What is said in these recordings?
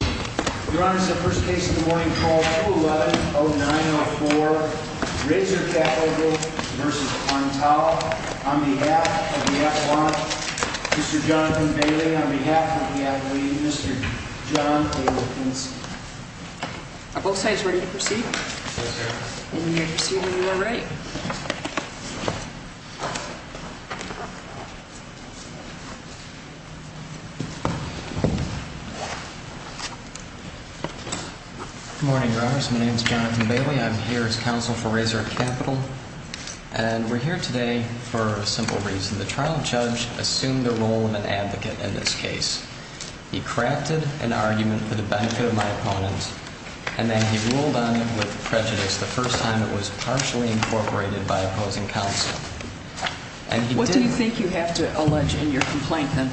Your Honor, this is the first case of the morning, call 211-0904, Razor Capital v. Antaal, on behalf of the affluent, Mr. Jonathan Bailey, on behalf of the athlete, Mr. John A. Wilkinson. Are both sides ready to proceed? Yes, Your Honor. Then we may proceed when you are ready. Good morning, Your Honor. My name is Jonathan Bailey. I'm here as counsel for Razor Capital. And we're here today for a simple reason. The trial judge assumed the role of an advocate in this case. He crafted an argument for the benefit of my opponent, and then he ruled on it with prejudice the first time it was partially incorporated by opposing counsel. What do you think you have to allege in your complaint, then?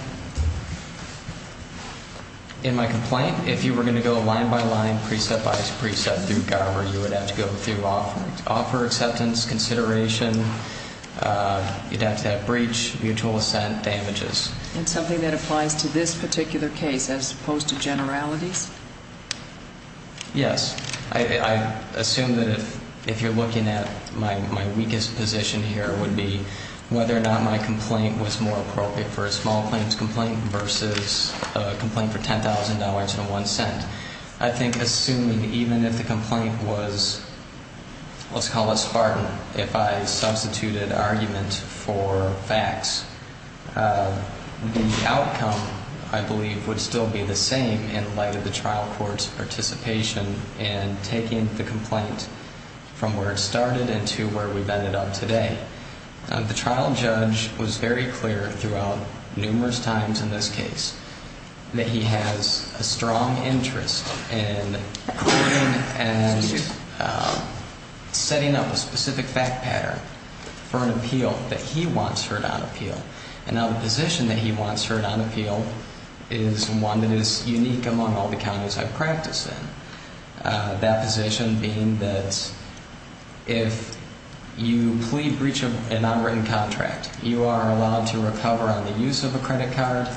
In my complaint, if you were going to go line by line, precept by precept, through Garber, you would have to go through offer acceptance, consideration, you'd have to have breach, mutual assent, damages. And something that applies to this particular case as opposed to generalities? Yes. I assume that if you're looking at my weakest position here would be whether or not my complaint was more appropriate for a small claims complaint versus a complaint for $10,000.01. I think assuming even if the complaint was, let's call it spartan, if I substituted argument for facts, the outcome, I believe, would still be the same in light of the trial court's participation in taking the complaint from where it started into where we've ended up today. The trial judge was very clear throughout numerous times in this case that he has a strong interest in hearing and setting up a specific fact pattern for an appeal that he wants heard on appeal. And now the position that he wants heard on appeal is one that is unique among all the counties I've practiced in. That position being that if you plead breach of an unwritten contract, you are allowed to recover on the use of a credit card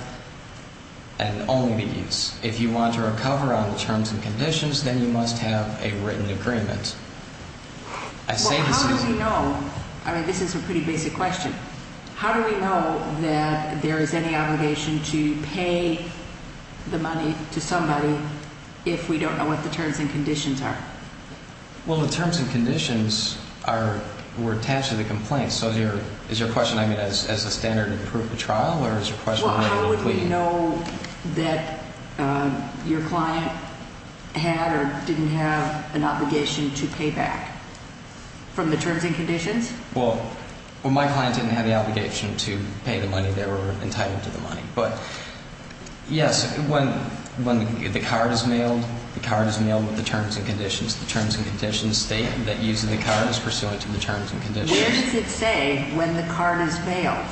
and only the use. If you want to recover on the terms and conditions, then you must have a written agreement. Well, how do we know? I mean, this is a pretty basic question. How do we know that there is any obligation to pay the money to somebody if we don't know what the terms and conditions are? Well, the terms and conditions were attached to the complaint. So is your question, I mean, as a standard to prove the trial or is your question related to pleading? Do you know that your client had or didn't have an obligation to pay back from the terms and conditions? Well, my client didn't have the obligation to pay the money. They were entitled to the money. But, yes, when the card is mailed, the card is mailed with the terms and conditions. The terms and conditions state that using the card is pursuant to the terms and conditions. Where does it say when the card is bailed?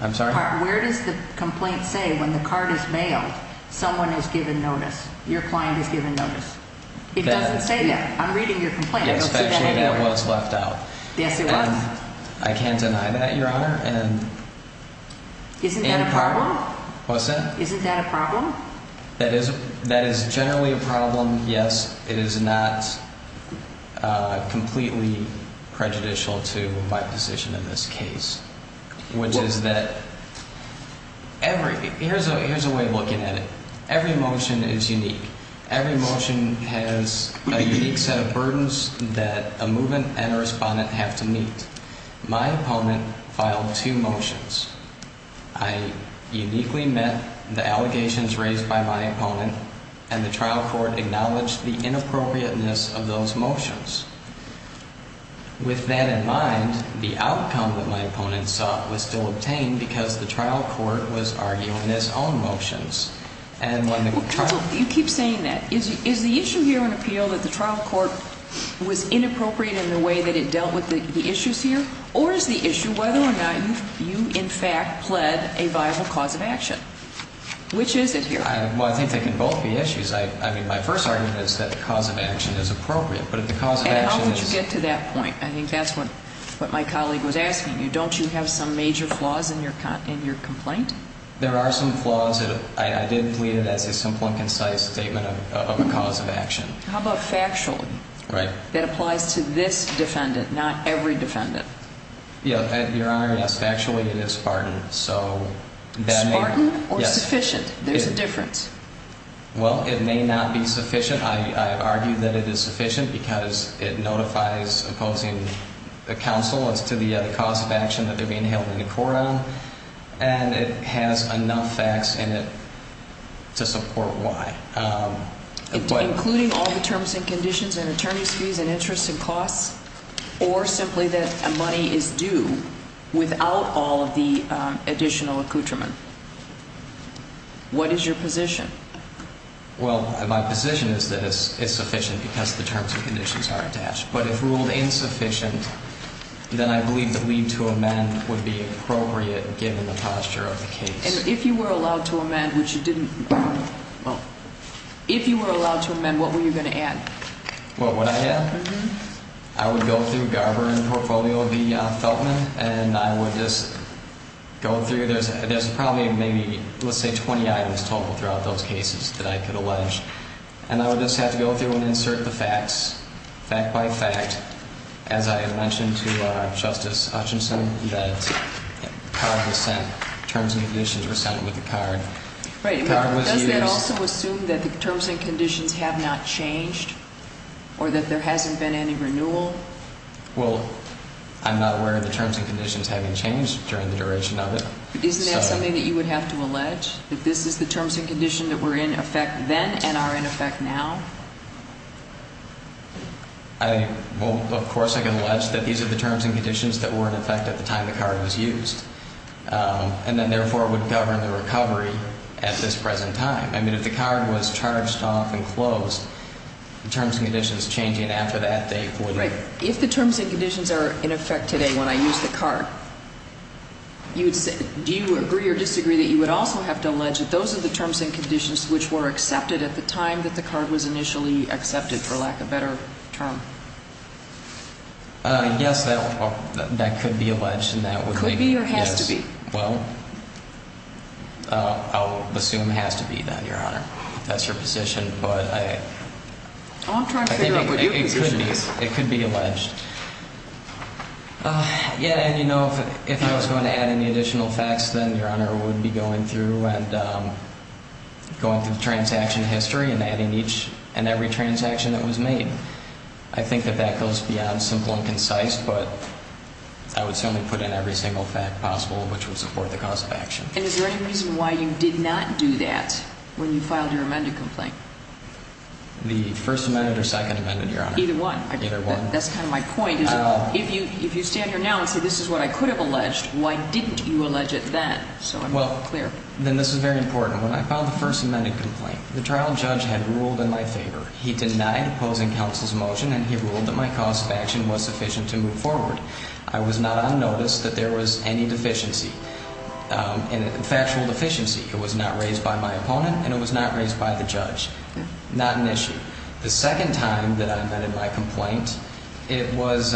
I'm sorry? Where does the complaint say when the card is bailed, someone has given notice, your client has given notice? It doesn't say that. I'm reading your complaint. It's actually what's left out. Yes, it was. I can't deny that, Your Honor. Isn't that a problem? What's that? Isn't that a problem? That is generally a problem, yes. It is not completely prejudicial to my position in this case, which is that every, here's a way of looking at it. Every motion is unique. Every motion has a unique set of burdens that a movement and a respondent have to meet. My opponent filed two motions. I uniquely met the allegations raised by my opponent, and the trial court acknowledged the inappropriateness of those motions. With that in mind, the outcome that my opponent sought was still obtained because the trial court was arguing his own motions. Counsel, you keep saying that. Is the issue here in appeal that the trial court was inappropriate in the way that it dealt with the issues here? Or is the issue whether or not you, in fact, pled a viable cause of action? Which is it here? Well, I think they can both be issues. I mean, my first argument is that the cause of action is appropriate, but if the cause of action is... And how would you get to that point? I think that's what my colleague was asking you. Don't you have some major flaws in your complaint? There are some flaws. I did plead it as a simple and concise statement of a cause of action. How about factually? That applies to this defendant, not every defendant. Your Honor, yes. Factually, it is spartan. Spartan or sufficient? There's a difference. Well, it may not be sufficient. I argue that it is sufficient because it notifies opposing counsel as to the cause of action that they're being held in court on. And it has enough facts in it to support why. Including all the terms and conditions and attorney's fees and interest and costs? Or simply that money is due without all of the additional accoutrement? What is your position? Well, my position is that it's sufficient because the terms and conditions are attached. But if ruled insufficient, then I believe that leave to amend would be appropriate given the posture of the case. And if you were allowed to amend, which you didn't... If you were allowed to amend, what were you going to add? What would I add? I would go through Garber and Portfolio v. Feltman, and I would just go through. There's probably maybe, let's say, 20 items total throughout those cases that I could allege. And I would just have to go through and insert the facts, fact by fact. As I mentioned to Justice Hutchinson, that the card was sent, terms and conditions were sent with the card. Right, but does that also assume that the terms and conditions have not changed or that there hasn't been any renewal? Well, I'm not aware of the terms and conditions having changed during the duration of it. Isn't that something that you would have to allege, that this is the terms and condition that were in effect then and are in effect now? Well, of course I can allege that these are the terms and conditions that were in effect at the time the card was used, and then therefore would govern the recovery at this present time. I mean, if the card was charged off and closed, the terms and conditions changing after that date would... If the terms and conditions are in effect today when I use the card, do you agree or disagree that you would also have to allege that those are the terms and conditions which were accepted at the time that the card was initially accepted, for lack of a better term? Yes, that could be alleged, and that would be... Could be or has to be? Well, I'll assume it has to be that, Your Honor. That's your position, but I... I'm trying to figure out what your position is. It could be. It could be alleged. Yeah, and you know, if I was going to add any additional facts, then Your Honor, I would be going through and going through the transaction history and adding each and every transaction that was made. I think that that goes beyond simple and concise, but I would certainly put in every single fact possible which would support the cause of action. And is there any reason why you did not do that when you filed your amended complaint? The first amended or second amended, Your Honor? Either one. Either one. That's kind of my point. If you stand here now and say this is what I could have alleged, why didn't you allege it then? So I'm not clear. Well, then this is very important. When I filed the first amended complaint, the trial judge had ruled in my favor. He denied opposing counsel's motion, and he ruled that my cause of action was sufficient to move forward. I was not on notice that there was any deficiency, factual deficiency. It was not raised by my opponent, and it was not raised by the judge. Not an issue. The second time that I amended my complaint, it was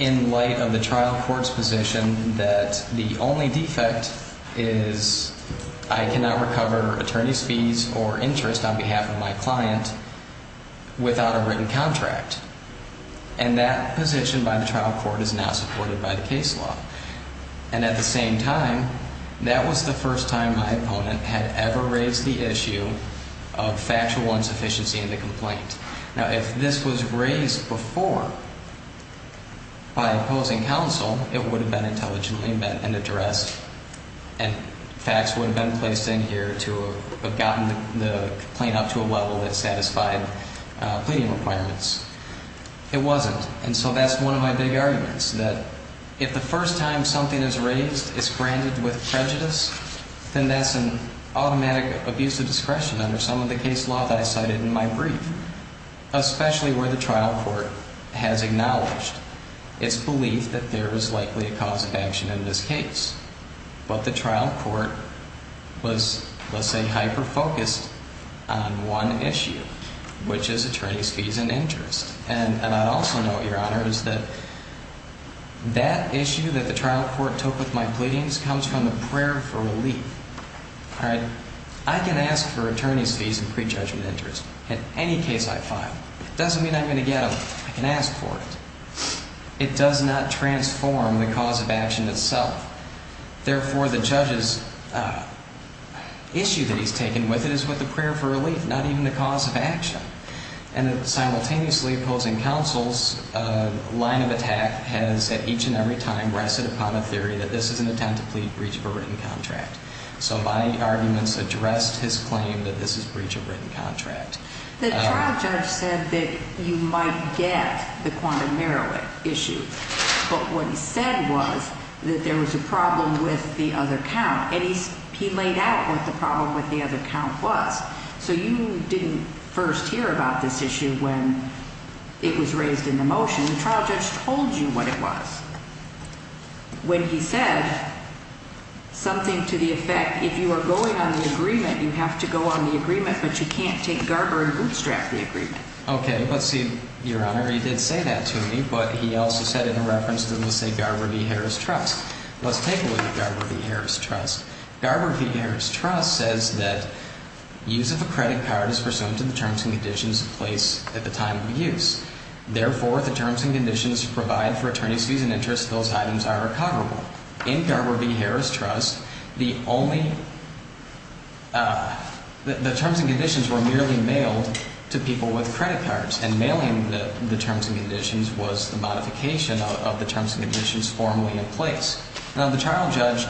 in light of the trial court's position that the only defect is I cannot recover attorney's fees or interest on behalf of my client without a written contract. And that position by the trial court is not supported by the case law. And at the same time, that was the first time my opponent had ever raised the issue of factual insufficiency in the complaint. Now, if this was raised before by opposing counsel, it would have been intelligently met and addressed, and facts would have been placed in here to have gotten the complaint up to a level that satisfied pleading requirements. It wasn't, and so that's one of my big arguments, that if the first time something is raised, it's granted with prejudice, then that's an automatic abuse of discretion under some of the case law that I cited in my brief, especially where the trial court has acknowledged its belief that there is likely a cause of action in this case. But the trial court was, let's say, hyper-focused on one issue, which is attorney's fees and interest. And I'd also note, Your Honor, is that that issue that the trial court took with my pleadings comes from the prayer for relief. All right? I can ask for attorney's fees and prejudgment interest in any case I file. It doesn't mean I'm going to get them. I can ask for it. It does not transform the cause of action itself. Therefore, the judge's issue that he's taken with it is with the prayer for relief, not even the cause of action. And simultaneously opposing counsel's line of attack has at each and every time rested upon a theory that this is an attempt to plead breach of a written contract. So my arguments addressed his claim that this is breach of written contract. The trial judge said that you might get the quantum merit issue. But what he said was that there was a problem with the other count. And he laid out what the problem with the other count was. So you didn't first hear about this issue when it was raised in the motion. The trial judge told you what it was. When he said something to the effect, if you are going on the agreement, you have to go on the agreement. But you can't take Garber and bootstrap the agreement. Okay. Let's see, Your Honor. He did say that to me. But he also said it in reference to, let's say, Garber v. Harris Trust. Let's take a look at Garber v. Harris Trust. Garber v. Harris Trust says that use of a credit card is pursuant to the terms and conditions in place at the time of use. Therefore, if the terms and conditions provide for attorney's fees and interest, those items are recoverable. In Garber v. Harris Trust, the only – the terms and conditions were merely mailed to people with credit cards. And mailing the terms and conditions was the modification of the terms and conditions formally in place. Now, the trial judge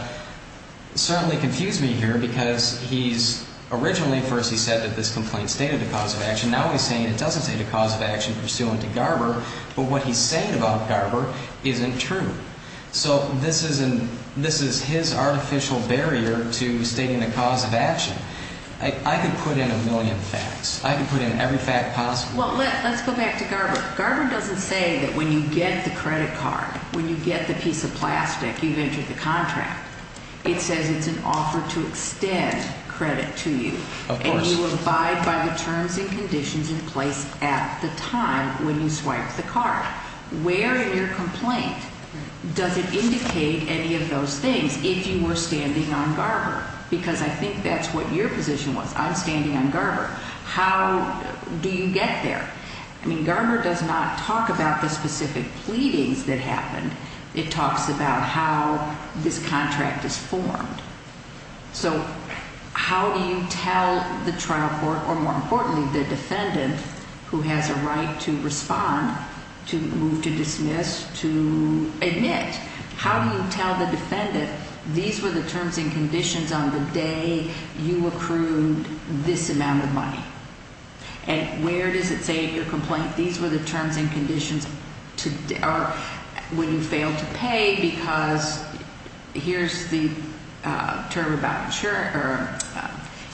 certainly confused me here because he's – originally, first he said that this complaint stated a cause of action. Now he's saying it doesn't state a cause of action pursuant to Garber. But what he's saying about Garber isn't true. So this is his artificial barrier to stating a cause of action. I could put in a million facts. I could put in every fact possible. Well, let's go back to Garber. Garber doesn't say that when you get the credit card, when you get the piece of plastic, you've entered the contract. It says it's an offer to extend credit to you. Of course. But you abide by the terms and conditions in place at the time when you swipe the card. Where in your complaint does it indicate any of those things if you were standing on Garber? Because I think that's what your position was. I'm standing on Garber. How do you get there? I mean, Garber does not talk about the specific pleadings that happened. It talks about how this contract is formed. So how do you tell the trial court or, more importantly, the defendant who has a right to respond, to move, to dismiss, to admit, how do you tell the defendant these were the terms and conditions on the day you accrued this amount of money? And where does it say in your complaint these were the terms and conditions when you failed to pay because here's the term about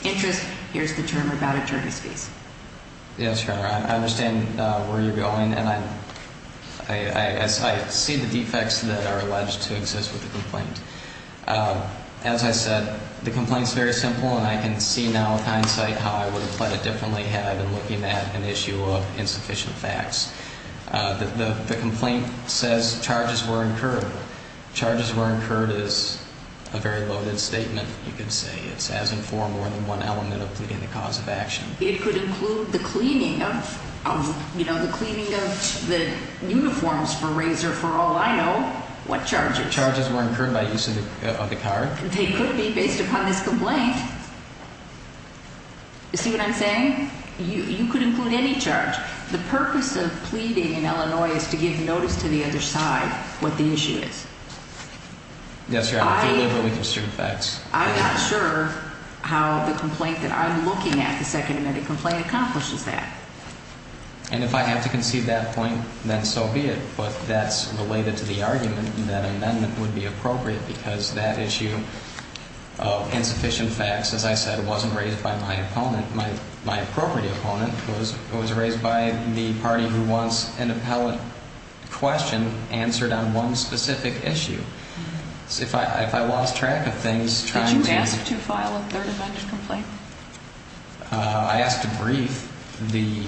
interest, here's the term about attorney's fees? Yes, Your Honor. I understand where you're going, and I see the defects that are alleged to exist with the complaint. As I said, the complaint is very simple, and I can see now with hindsight how I would have played it differently had I been looking at an issue of insufficient facts. The complaint says charges were incurred. Charges were incurred is a very loaded statement, you could say. It says in four more than one element of pleading the cause of action. It could include the cleaning of, you know, the cleaning of the uniforms for Razor for all I know. What charges? Charges were incurred by use of the card. They could be based upon this complaint. You see what I'm saying? You could include any charge. The purpose of pleading in Illinois is to give notice to the other side what the issue is. Yes, Your Honor. I'm not sure how the complaint that I'm looking at, the second amendment complaint, accomplishes that. And if I have to concede that point, then so be it. But that's related to the argument that amendment would be appropriate because that issue of insufficient facts, as I said, wasn't raised by my opponent. My appropriate opponent was raised by the party who wants an appellate question answered on one specific issue. If I lost track of things trying to – Did you ask to file a third amendment complaint? I asked to brief the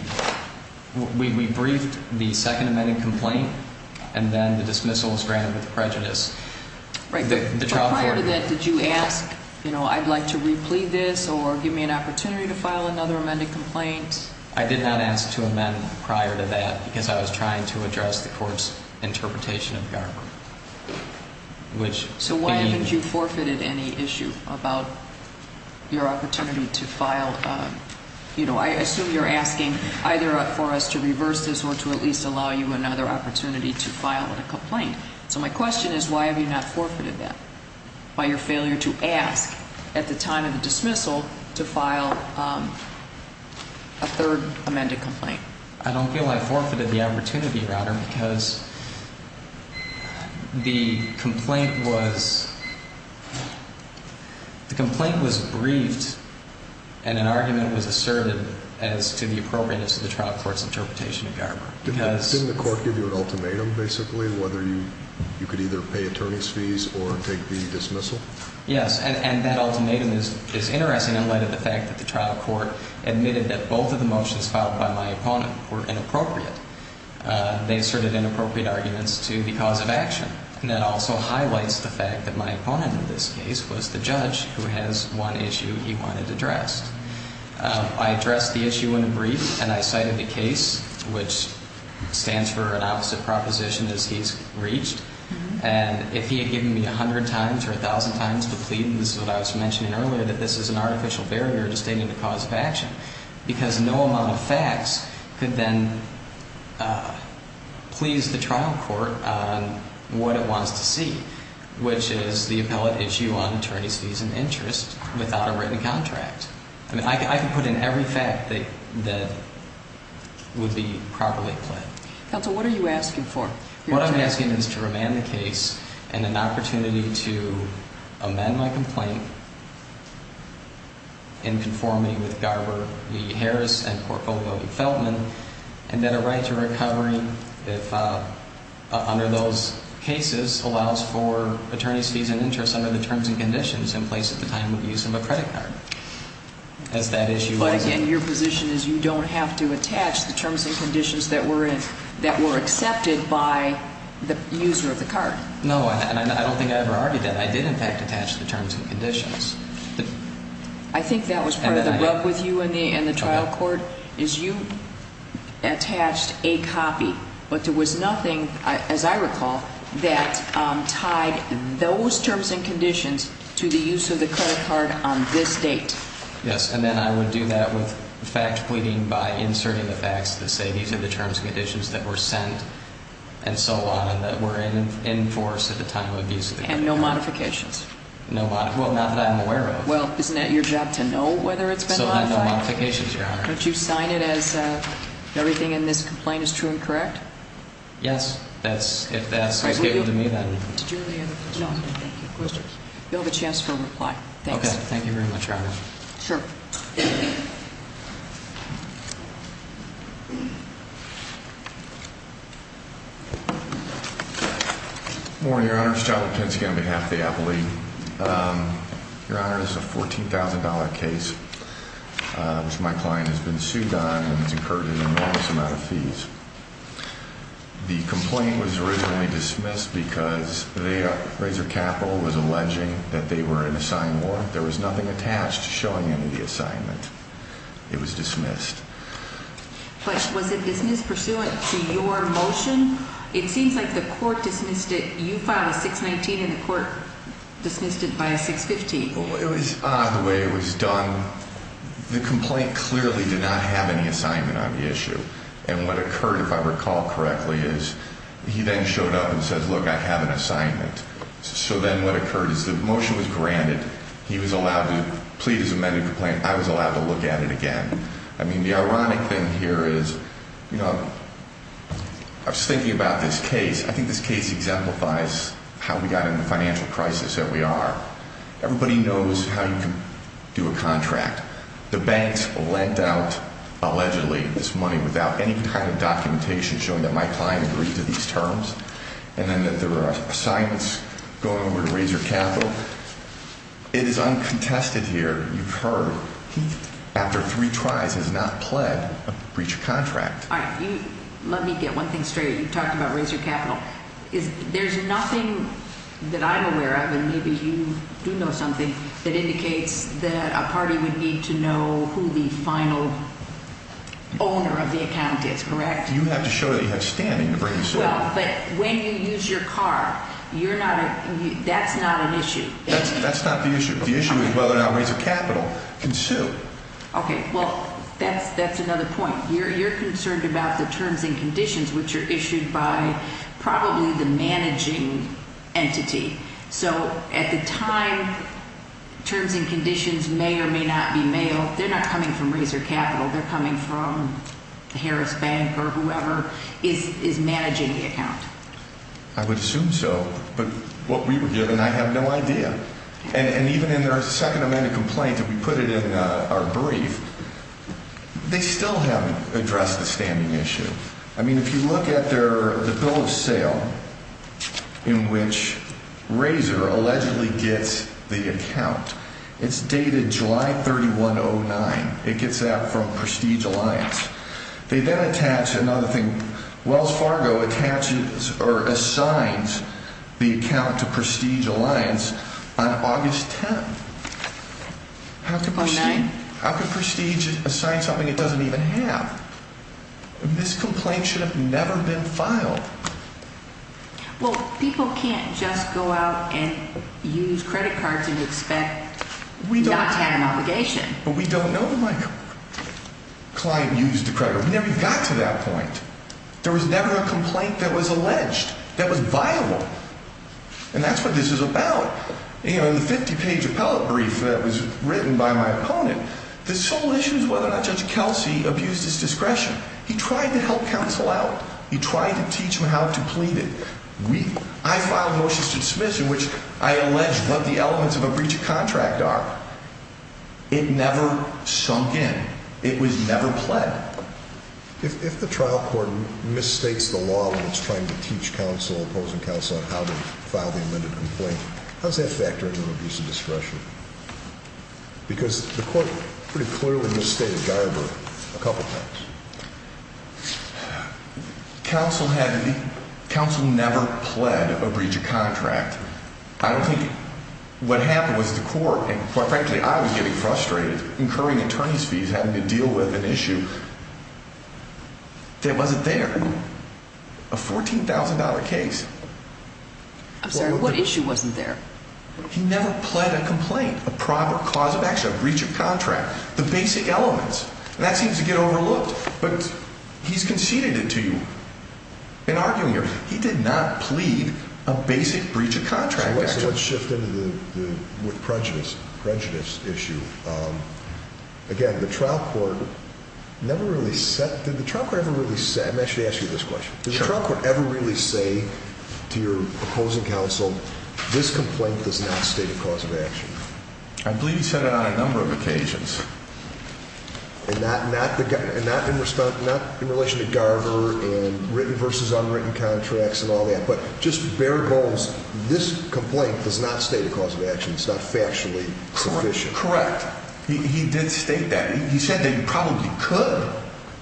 – we briefed the second amendment complaint, and then the dismissal was granted with prejudice. But prior to that, did you ask, you know, I'd like to replead this or give me an opportunity to file another amended complaint? I did not ask to amend prior to that because I was trying to address the court's interpretation of Garber, which – So why haven't you forfeited any issue about your opportunity to file – you know, I assume you're asking either for us to reverse this or to at least allow you another opportunity to file a complaint. So my question is why have you not forfeited that by your failure to ask at the time of the dismissal to file a third amended complaint? I don't feel I forfeited the opportunity, Your Honor, because the complaint was – the complaint was briefed and an argument was asserted as to the appropriateness of the trial court's interpretation of Garber. Didn't the court give you an ultimatum, basically, whether you could either pay attorney's fees or take the dismissal? Yes, and that ultimatum is interesting in light of the fact that the trial court admitted that both of the motions filed by my opponent were inappropriate. They asserted inappropriate arguments to the cause of action, and that also highlights the fact that my opponent in this case was the judge who has one issue he wanted addressed. I addressed the issue in a brief, and I cited the case, which stands for an opposite proposition as he's reached. And if he had given me a hundred times or a thousand times to plead, and this is what I was mentioning earlier, that this is an artificial barrier to stating the cause of action, because no amount of facts could then please the trial court on what it wants to see, which is the appellate issue on attorney's fees and interest without a written contract. I mean, I could put in every fact that would be properly pled. Counsel, what are you asking for? What I'm asking is to remand the case and an opportunity to amend my complaint in conformity with Garber v. Harris and Portfolio v. Feltman, and that a right to recovery under those cases allows for attorney's fees and interest under the terms and conditions in place at the time of use of a credit card. But again, your position is you don't have to attach the terms and conditions that were accepted by the user of the card. No, and I don't think I ever argued that. I did, in fact, attach the terms and conditions. I think that was part of the rub with you and the trial court is you attached a copy, but there was nothing, as I recall, that tied those terms and conditions to the use of the credit card on this date. Yes, and then I would do that with fact pleading by inserting the facts that say these are the terms and conditions that were sent and so on and that were in force at the time of use of the credit card. And no modifications. Well, not that I'm aware of. Well, isn't that your job to know whether it's been modified? So no modifications, Your Honor. Don't you sign it as everything in this complaint is true and correct? Yes, if that's what's given to me, then. Did you have any other questions? No, thank you. Questions? You'll have a chance for a reply. Thanks. Okay, thank you very much, Your Honor. Sure. Good morning, Your Honor. Your Honor, this is a $14,000 case, which my client has been sued on and has incurred an enormous amount of fees. The complaint was originally dismissed because Razor Capital was alleging that they were in a signed warrant. There was nothing attached showing any of the assignment. It was dismissed. But was it dismissed pursuant to your motion? It seems like the court dismissed it. You filed a 619, and the court dismissed it by a 615. It was odd the way it was done. The complaint clearly did not have any assignment on the issue. And what occurred, if I recall correctly, is he then showed up and said, look, I have an assignment. So then what occurred is the motion was granted. He was allowed to plead his amended complaint. I was allowed to look at it again. I mean, the ironic thing here is, you know, I was thinking about this case. I think this case exemplifies how we got into the financial crisis that we are. Everybody knows how you can do a contract. The banks lent out, allegedly, this money without any kind of documentation showing that my client agreed to these terms. And then there were assignments going over to Razor Capital. It is uncontested here. You've heard he, after three tries, has not pled a breach of contract. All right. Let me get one thing straight. You talked about Razor Capital. There's nothing that I'm aware of, and maybe you do know something, that indicates that a party would need to know who the final owner of the account is, correct? You have to show that you have standing to bring this up. Well, but when you use your car, you're not a – that's not an issue. That's not the issue. The issue is whether or not Razor Capital can sue. Okay. Well, that's another point. You're concerned about the terms and conditions, which are issued by probably the managing entity. So at the time, terms and conditions may or may not be mailed. They're not coming from Razor Capital. They're coming from Harris Bank or whoever is managing the account. I would assume so. But what we were given, I have no idea. And even in our Second Amendment complaint that we put it in our brief, they still haven't addressed the standing issue. I mean, if you look at their – the bill of sale in which Razor allegedly gets the account, it's dated July 31, 2009. It gets out from Prestige Alliance. They then attach another thing. Wells Fargo attaches or assigns the account to Prestige Alliance on August 10. How could Prestige assign something it doesn't even have? This complaint should have never been filed. Well, people can't just go out and use credit cards and expect not to have an obligation. But we don't know, Michael. A client used a credit card. We never got to that point. There was never a complaint that was alleged that was viable. And that's what this is about. In the 50-page appellate brief that was written by my opponent, the sole issue is whether or not Judge Kelsey abused his discretion. He tried to help counsel out. He tried to teach him how to plead it. I filed motions to dismiss in which I allege what the elements of a breach of contract are. It never sunk in. It was never pled. If the trial court misstates the law when it's trying to teach counsel, opposing counsel, on how to file the amended complaint, how does that factor into an abuse of discretion? Because the court pretty clearly misstated Dyerberg a couple times. Counsel never pled a breach of contract. I don't think what happened was the court, and quite frankly I was getting frustrated, incurring attorney's fees having to deal with an issue that wasn't there. A $14,000 case. I'm sorry. What issue wasn't there? He never pled a complaint, a proper cause of action, a breach of contract, the basic elements. And that seems to get overlooked, but he's conceded it to you in arguing here. He did not plead a basic breach of contract. So let's shift into the prejudice issue. Again, the trial court never really said, did the trial court ever really say, let me actually ask you this question. Did the trial court ever really say to your opposing counsel, this complaint does not state a cause of action? I believe he said it on a number of occasions. And not in relation to Garver and written versus unwritten contracts and all that, but just bare goals, this complaint does not state a cause of action. It's not factually sufficient. Correct. He did state that. He said that you probably could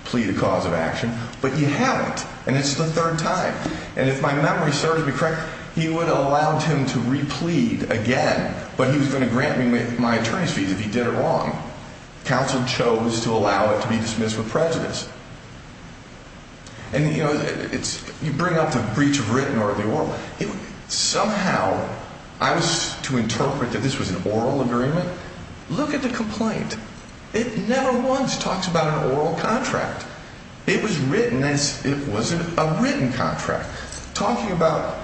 plead a cause of action, but you haven't, and it's the third time. And if my memory serves me correct, he would have allowed him to replead again, but he was going to grant me my attorney's fees if he did it wrong. Counsel chose to allow it to be dismissed with prejudice. And, you know, you bring up the breach of written or the oral. Somehow, I was to interpret that this was an oral agreement. Look at the complaint. It never once talks about an oral contract. It was written as it was a written contract, talking about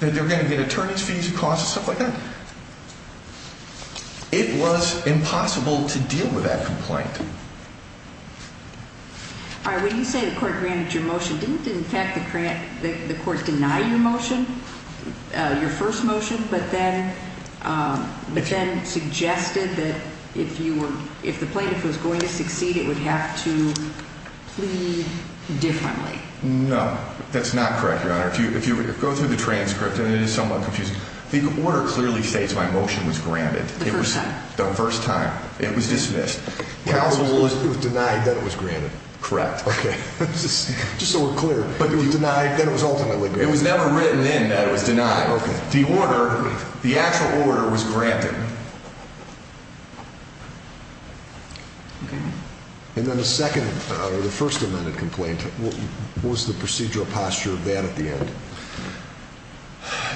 that they're going to get attorney's fees and costs and stuff like that. It was impossible to deal with that complaint. When you say the court granted your motion, didn't, in fact, the court deny your motion, your first motion, but then suggested that if the plaintiff was going to succeed, it would have to plead differently? No, that's not correct, Your Honor. If you go through the transcript, and it is somewhat confusing. The order clearly states my motion was granted. The first time? The first time. It was dismissed. Counsel denied that it was granted. Correct. Okay. Just so we're clear. But denied that it was ultimately granted. It was never written in that it was denied. The order, the actual order was granted. Okay. And then the second, or the first amended complaint, what was the procedural posture of that at the end?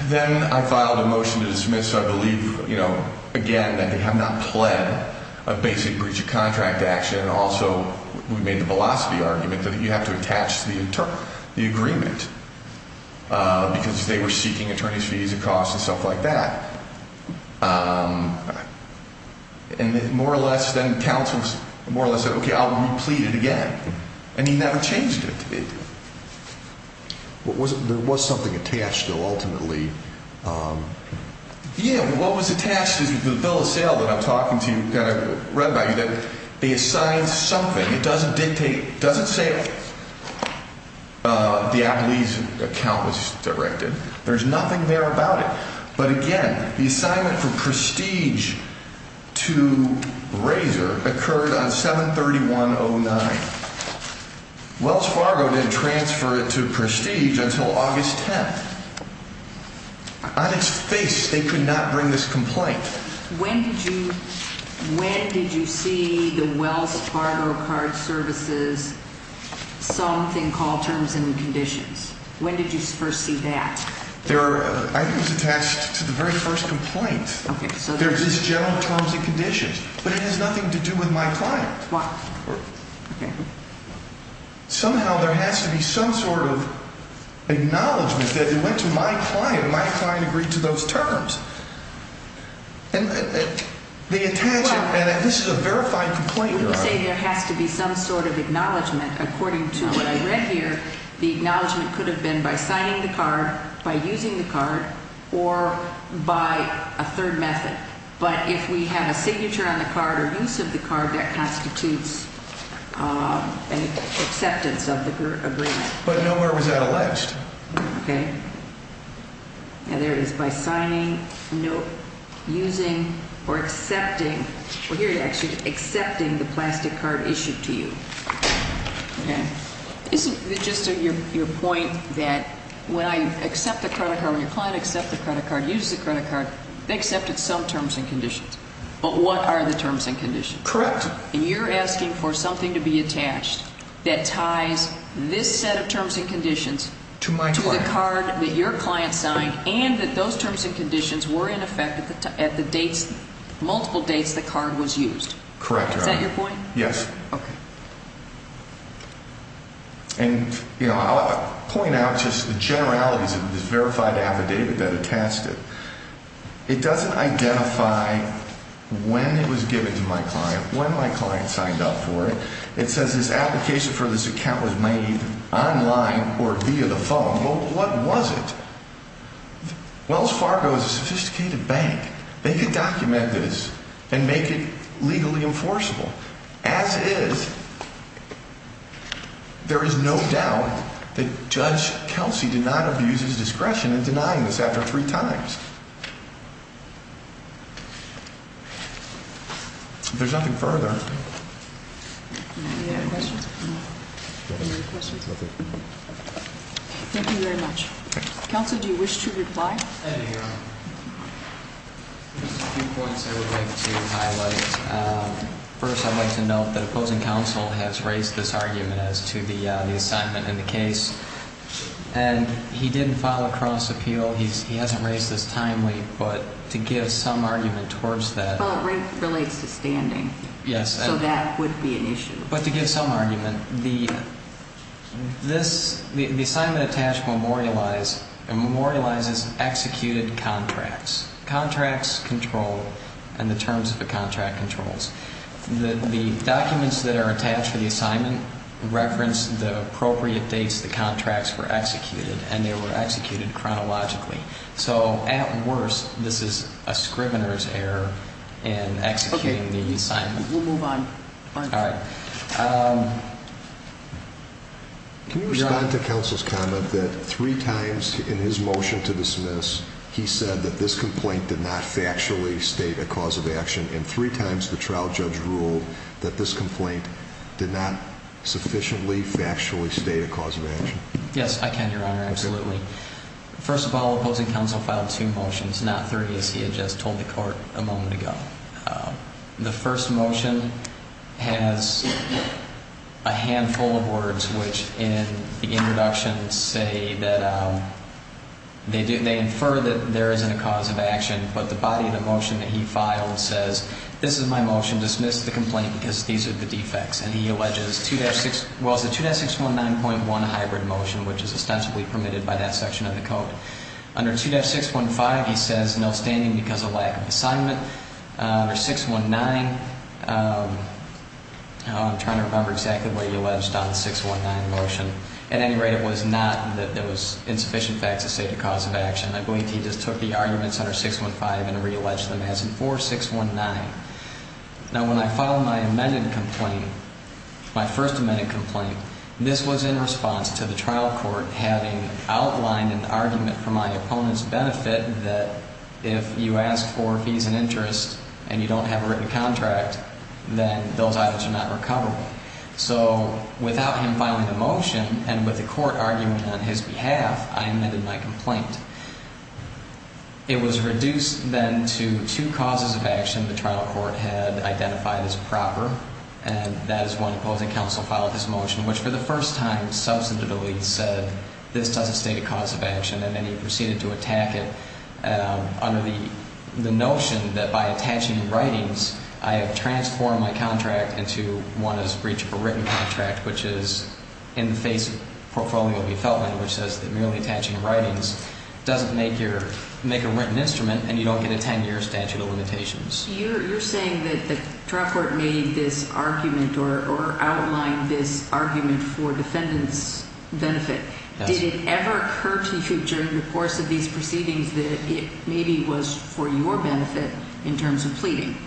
Then I filed a motion to dismiss. I believe, you know, again, that they have not pled a basic breach of contract action. Also, we made the velocity argument that you have to attach the agreement, because they were seeking attorney's fees and costs and stuff like that. And more or less, then counsel more or less said, okay, I'll replead it again. And he never changed it. There was something attached, though, ultimately. Yeah. What was attached is the bill of sale that I'm talking to, kind of read by you, that they assigned something. It doesn't dictate, it doesn't say the Applebee's account was directed. There's nothing there about it. But, again, the assignment for Prestige to Razor occurred on 7-3109. Wells Fargo didn't transfer it to Prestige until August 10th. On its face, they could not bring this complaint. When did you see the Wells Fargo card services something called terms and conditions? When did you first see that? I think it was attached to the very first complaint. Okay. There's this general terms and conditions, but it has nothing to do with my client. Why? Somehow there has to be some sort of acknowledgment that it went to my client. My client agreed to those terms. And they attach it, and this is a verified complaint. You say there has to be some sort of acknowledgment according to what I read here. The acknowledgment could have been by signing the card, by using the card, or by a third method. But if we have a signature on the card or use of the card, that constitutes an acceptance of the agreement. But nowhere was that alleged. Okay. And there is by signing, note, using, or accepting. Well, here it actually says accepting the plastic card issued to you. Okay. Isn't it just your point that when I accept the credit card, when your client accepts the credit card, uses the credit card, they accepted some terms and conditions, but what are the terms and conditions? Correct. And you're asking for something to be attached that ties this set of terms and conditions to the card that your client signed and that those terms and conditions were in effect at the dates, multiple dates the card was used. Correct. Is that your point? Yes. Okay. And, you know, I'll point out just the generalities of this verified affidavit that attached it. It doesn't identify when it was given to my client, when my client signed up for it. It says this application for this account was made online or via the phone. Well, what was it? Wells Fargo is a sophisticated bank. They could document this and make it legally enforceable. As is, there is no doubt that Judge Kelsey did not abuse his discretion in denying this after three times. If there's nothing further. Thank you very much. Counsel, do you wish to reply? Thank you, Your Honor. There's a few points I would like to highlight. First, I'd like to note that opposing counsel has raised this argument as to the assignment in the case. And he didn't file a cross appeal. He hasn't raised this timely. But to give some argument towards that. Well, it relates to standing. Yes. So that would be an issue. But to give some argument, the assignment attached memorializes executed contracts. Contracts control and the terms of the contract controls. The documents that are attached to the assignment reference the appropriate dates the contracts were executed. And they were executed chronologically. So at worst, this is a scrivener's error in executing the assignment. We'll move on. All right. Can you respond to counsel's comment that three times in his motion to dismiss, he said that this complaint did not factually state a cause of action. And three times the trial judge ruled that this complaint did not sufficiently factually state a cause of action. Yes, I can, Your Honor. Absolutely. First of all, opposing counsel filed two motions, not three, as he had just told the court a moment ago. The first motion has a handful of words, which in the introduction say that they infer that there isn't a cause of action. But the body of the motion that he filed says, this is my motion. Dismiss the complaint because these are the defects. And he alleges 2-6, well, it's a 2-619.1 hybrid motion, which is ostensibly permitted by that section of the code. Under 2-615, he says no standing because of lack of assignment. Under 619, I'm trying to remember exactly what he alleged on the 619 motion. At any rate, it was not that there was insufficient fact to state a cause of action. I believe he just took the arguments under 615 and realleged them as in 4619. Now, when I filed my amended complaint, my first amended complaint, this was in response to the trial court having outlined an argument for my opponent's benefit that if you ask for fees and interest and you don't have a written contract, then those items are not recoverable. So without him filing the motion and with the court argument on his behalf, I amended my complaint. It was reduced then to two causes of action the trial court had identified as proper. And that is when opposing counsel filed this motion, which for the first time substantively said this doesn't state a cause of action. And then he proceeded to attack it under the notion that by attaching writings, I have transformed my contract into, one, a breach of a written contract, which is in the face of Portfolio v. Feltman, which says that merely attaching writings doesn't make a written instrument and you don't get a 10-year statute of limitations. You're saying that the trial court made this argument or outlined this argument for defendant's benefit. Did it ever occur to you during the course of these proceedings that it maybe was for your benefit in terms of pleading?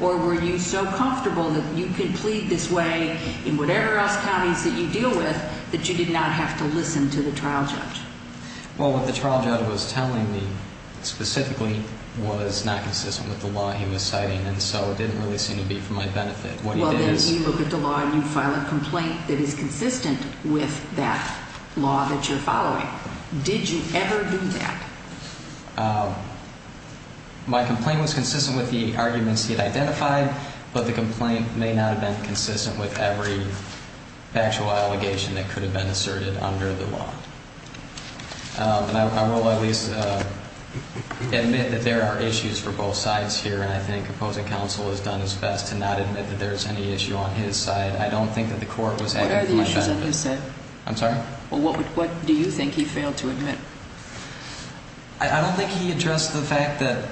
Or were you so comfortable that you could plead this way in whatever else counties that you deal with that you did not have to listen to the trial judge? Well, what the trial judge was telling me specifically was not consistent with the law he was citing, and so it didn't really seem to be for my benefit. Well, then you look at the law and you file a complaint that is consistent with that law that you're following. Did you ever do that? My complaint was consistent with the arguments he had identified, but the complaint may not have been consistent with every factual allegation that could have been asserted under the law. And I will at least admit that there are issues for both sides here, and I think opposing counsel has done his best to not admit that there's any issue on his side. I don't think that the court was acting for my benefit. What are the issues on his side? I'm sorry? Well, what do you think he failed to admit? I don't think he addressed the fact that,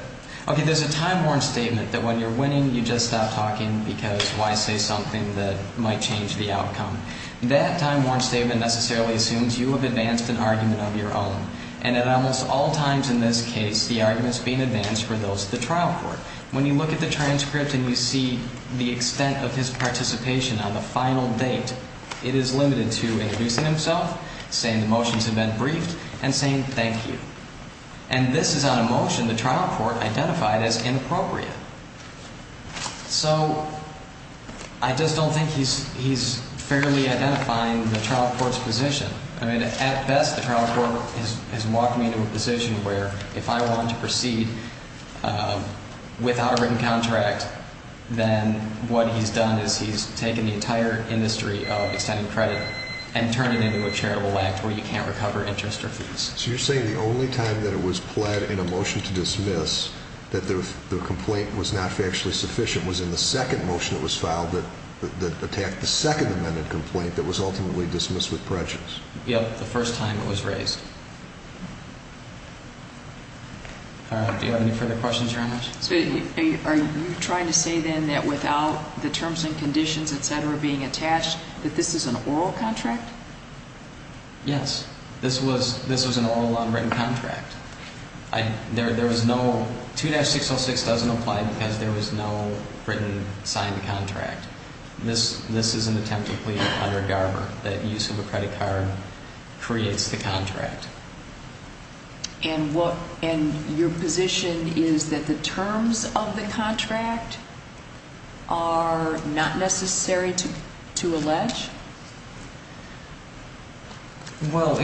okay, there's a time-worn statement that when you're winning, you just stop talking because why say something that might change the outcome. That time-worn statement necessarily assumes you have advanced an argument of your own, and at almost all times in this case, the argument's being advanced for those at the trial court. When you look at the transcript and you see the extent of his participation on the final date, it is limited to introducing himself, saying the motions have been briefed, and saying thank you. And this is on a motion the trial court identified as inappropriate. So I just don't think he's fairly identifying the trial court's position. I mean, at best, the trial court has walked me into a position where if I wanted to proceed without a written contract, then what he's done is he's taken the entire industry of extending credit and turned it into a charitable act where you can't recover interest or fees. So you're saying the only time that it was pled in a motion to dismiss that the complaint was not factually sufficient was in the second motion that was filed that attacked the second amended complaint that was ultimately dismissed with prejudice? Yep, the first time it was raised. Do you have any further questions, Your Honor? Are you trying to say, then, that without the terms and conditions, et cetera, being attached, that this is an oral contract? Yes. This was an oral, unwritten contract. There was no 2-606 doesn't apply because there was no written signed contract. This is an attempted plea under Garber, that use of a credit card creates the contract. And your position is that the terms of the contract are not necessary to allege? Well,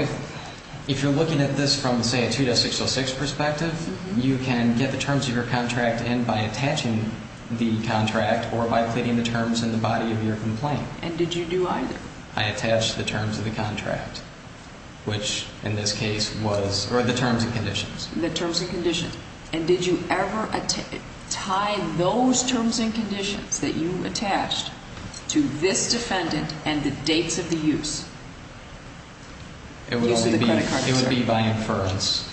if you're looking at this from, say, a 2-606 perspective, you can get the terms of your contract in by attaching the contract or by pleading the terms in the body of your complaint. And did you do either? I attached the terms of the contract, which, in this case, was the terms and conditions. The terms and conditions. And did you ever tie those terms and conditions that you attached to this defendant and the dates of the use? It would be by inference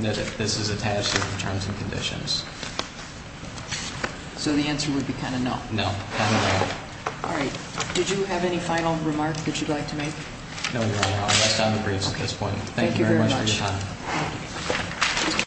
that this is attached to the terms and conditions. So the answer would be kind of no? No. All right. Did you have any final remarks that you'd like to make? No, Your Honor. I'll rest on the briefs at this point. Thank you very much for your time. Thank you very much.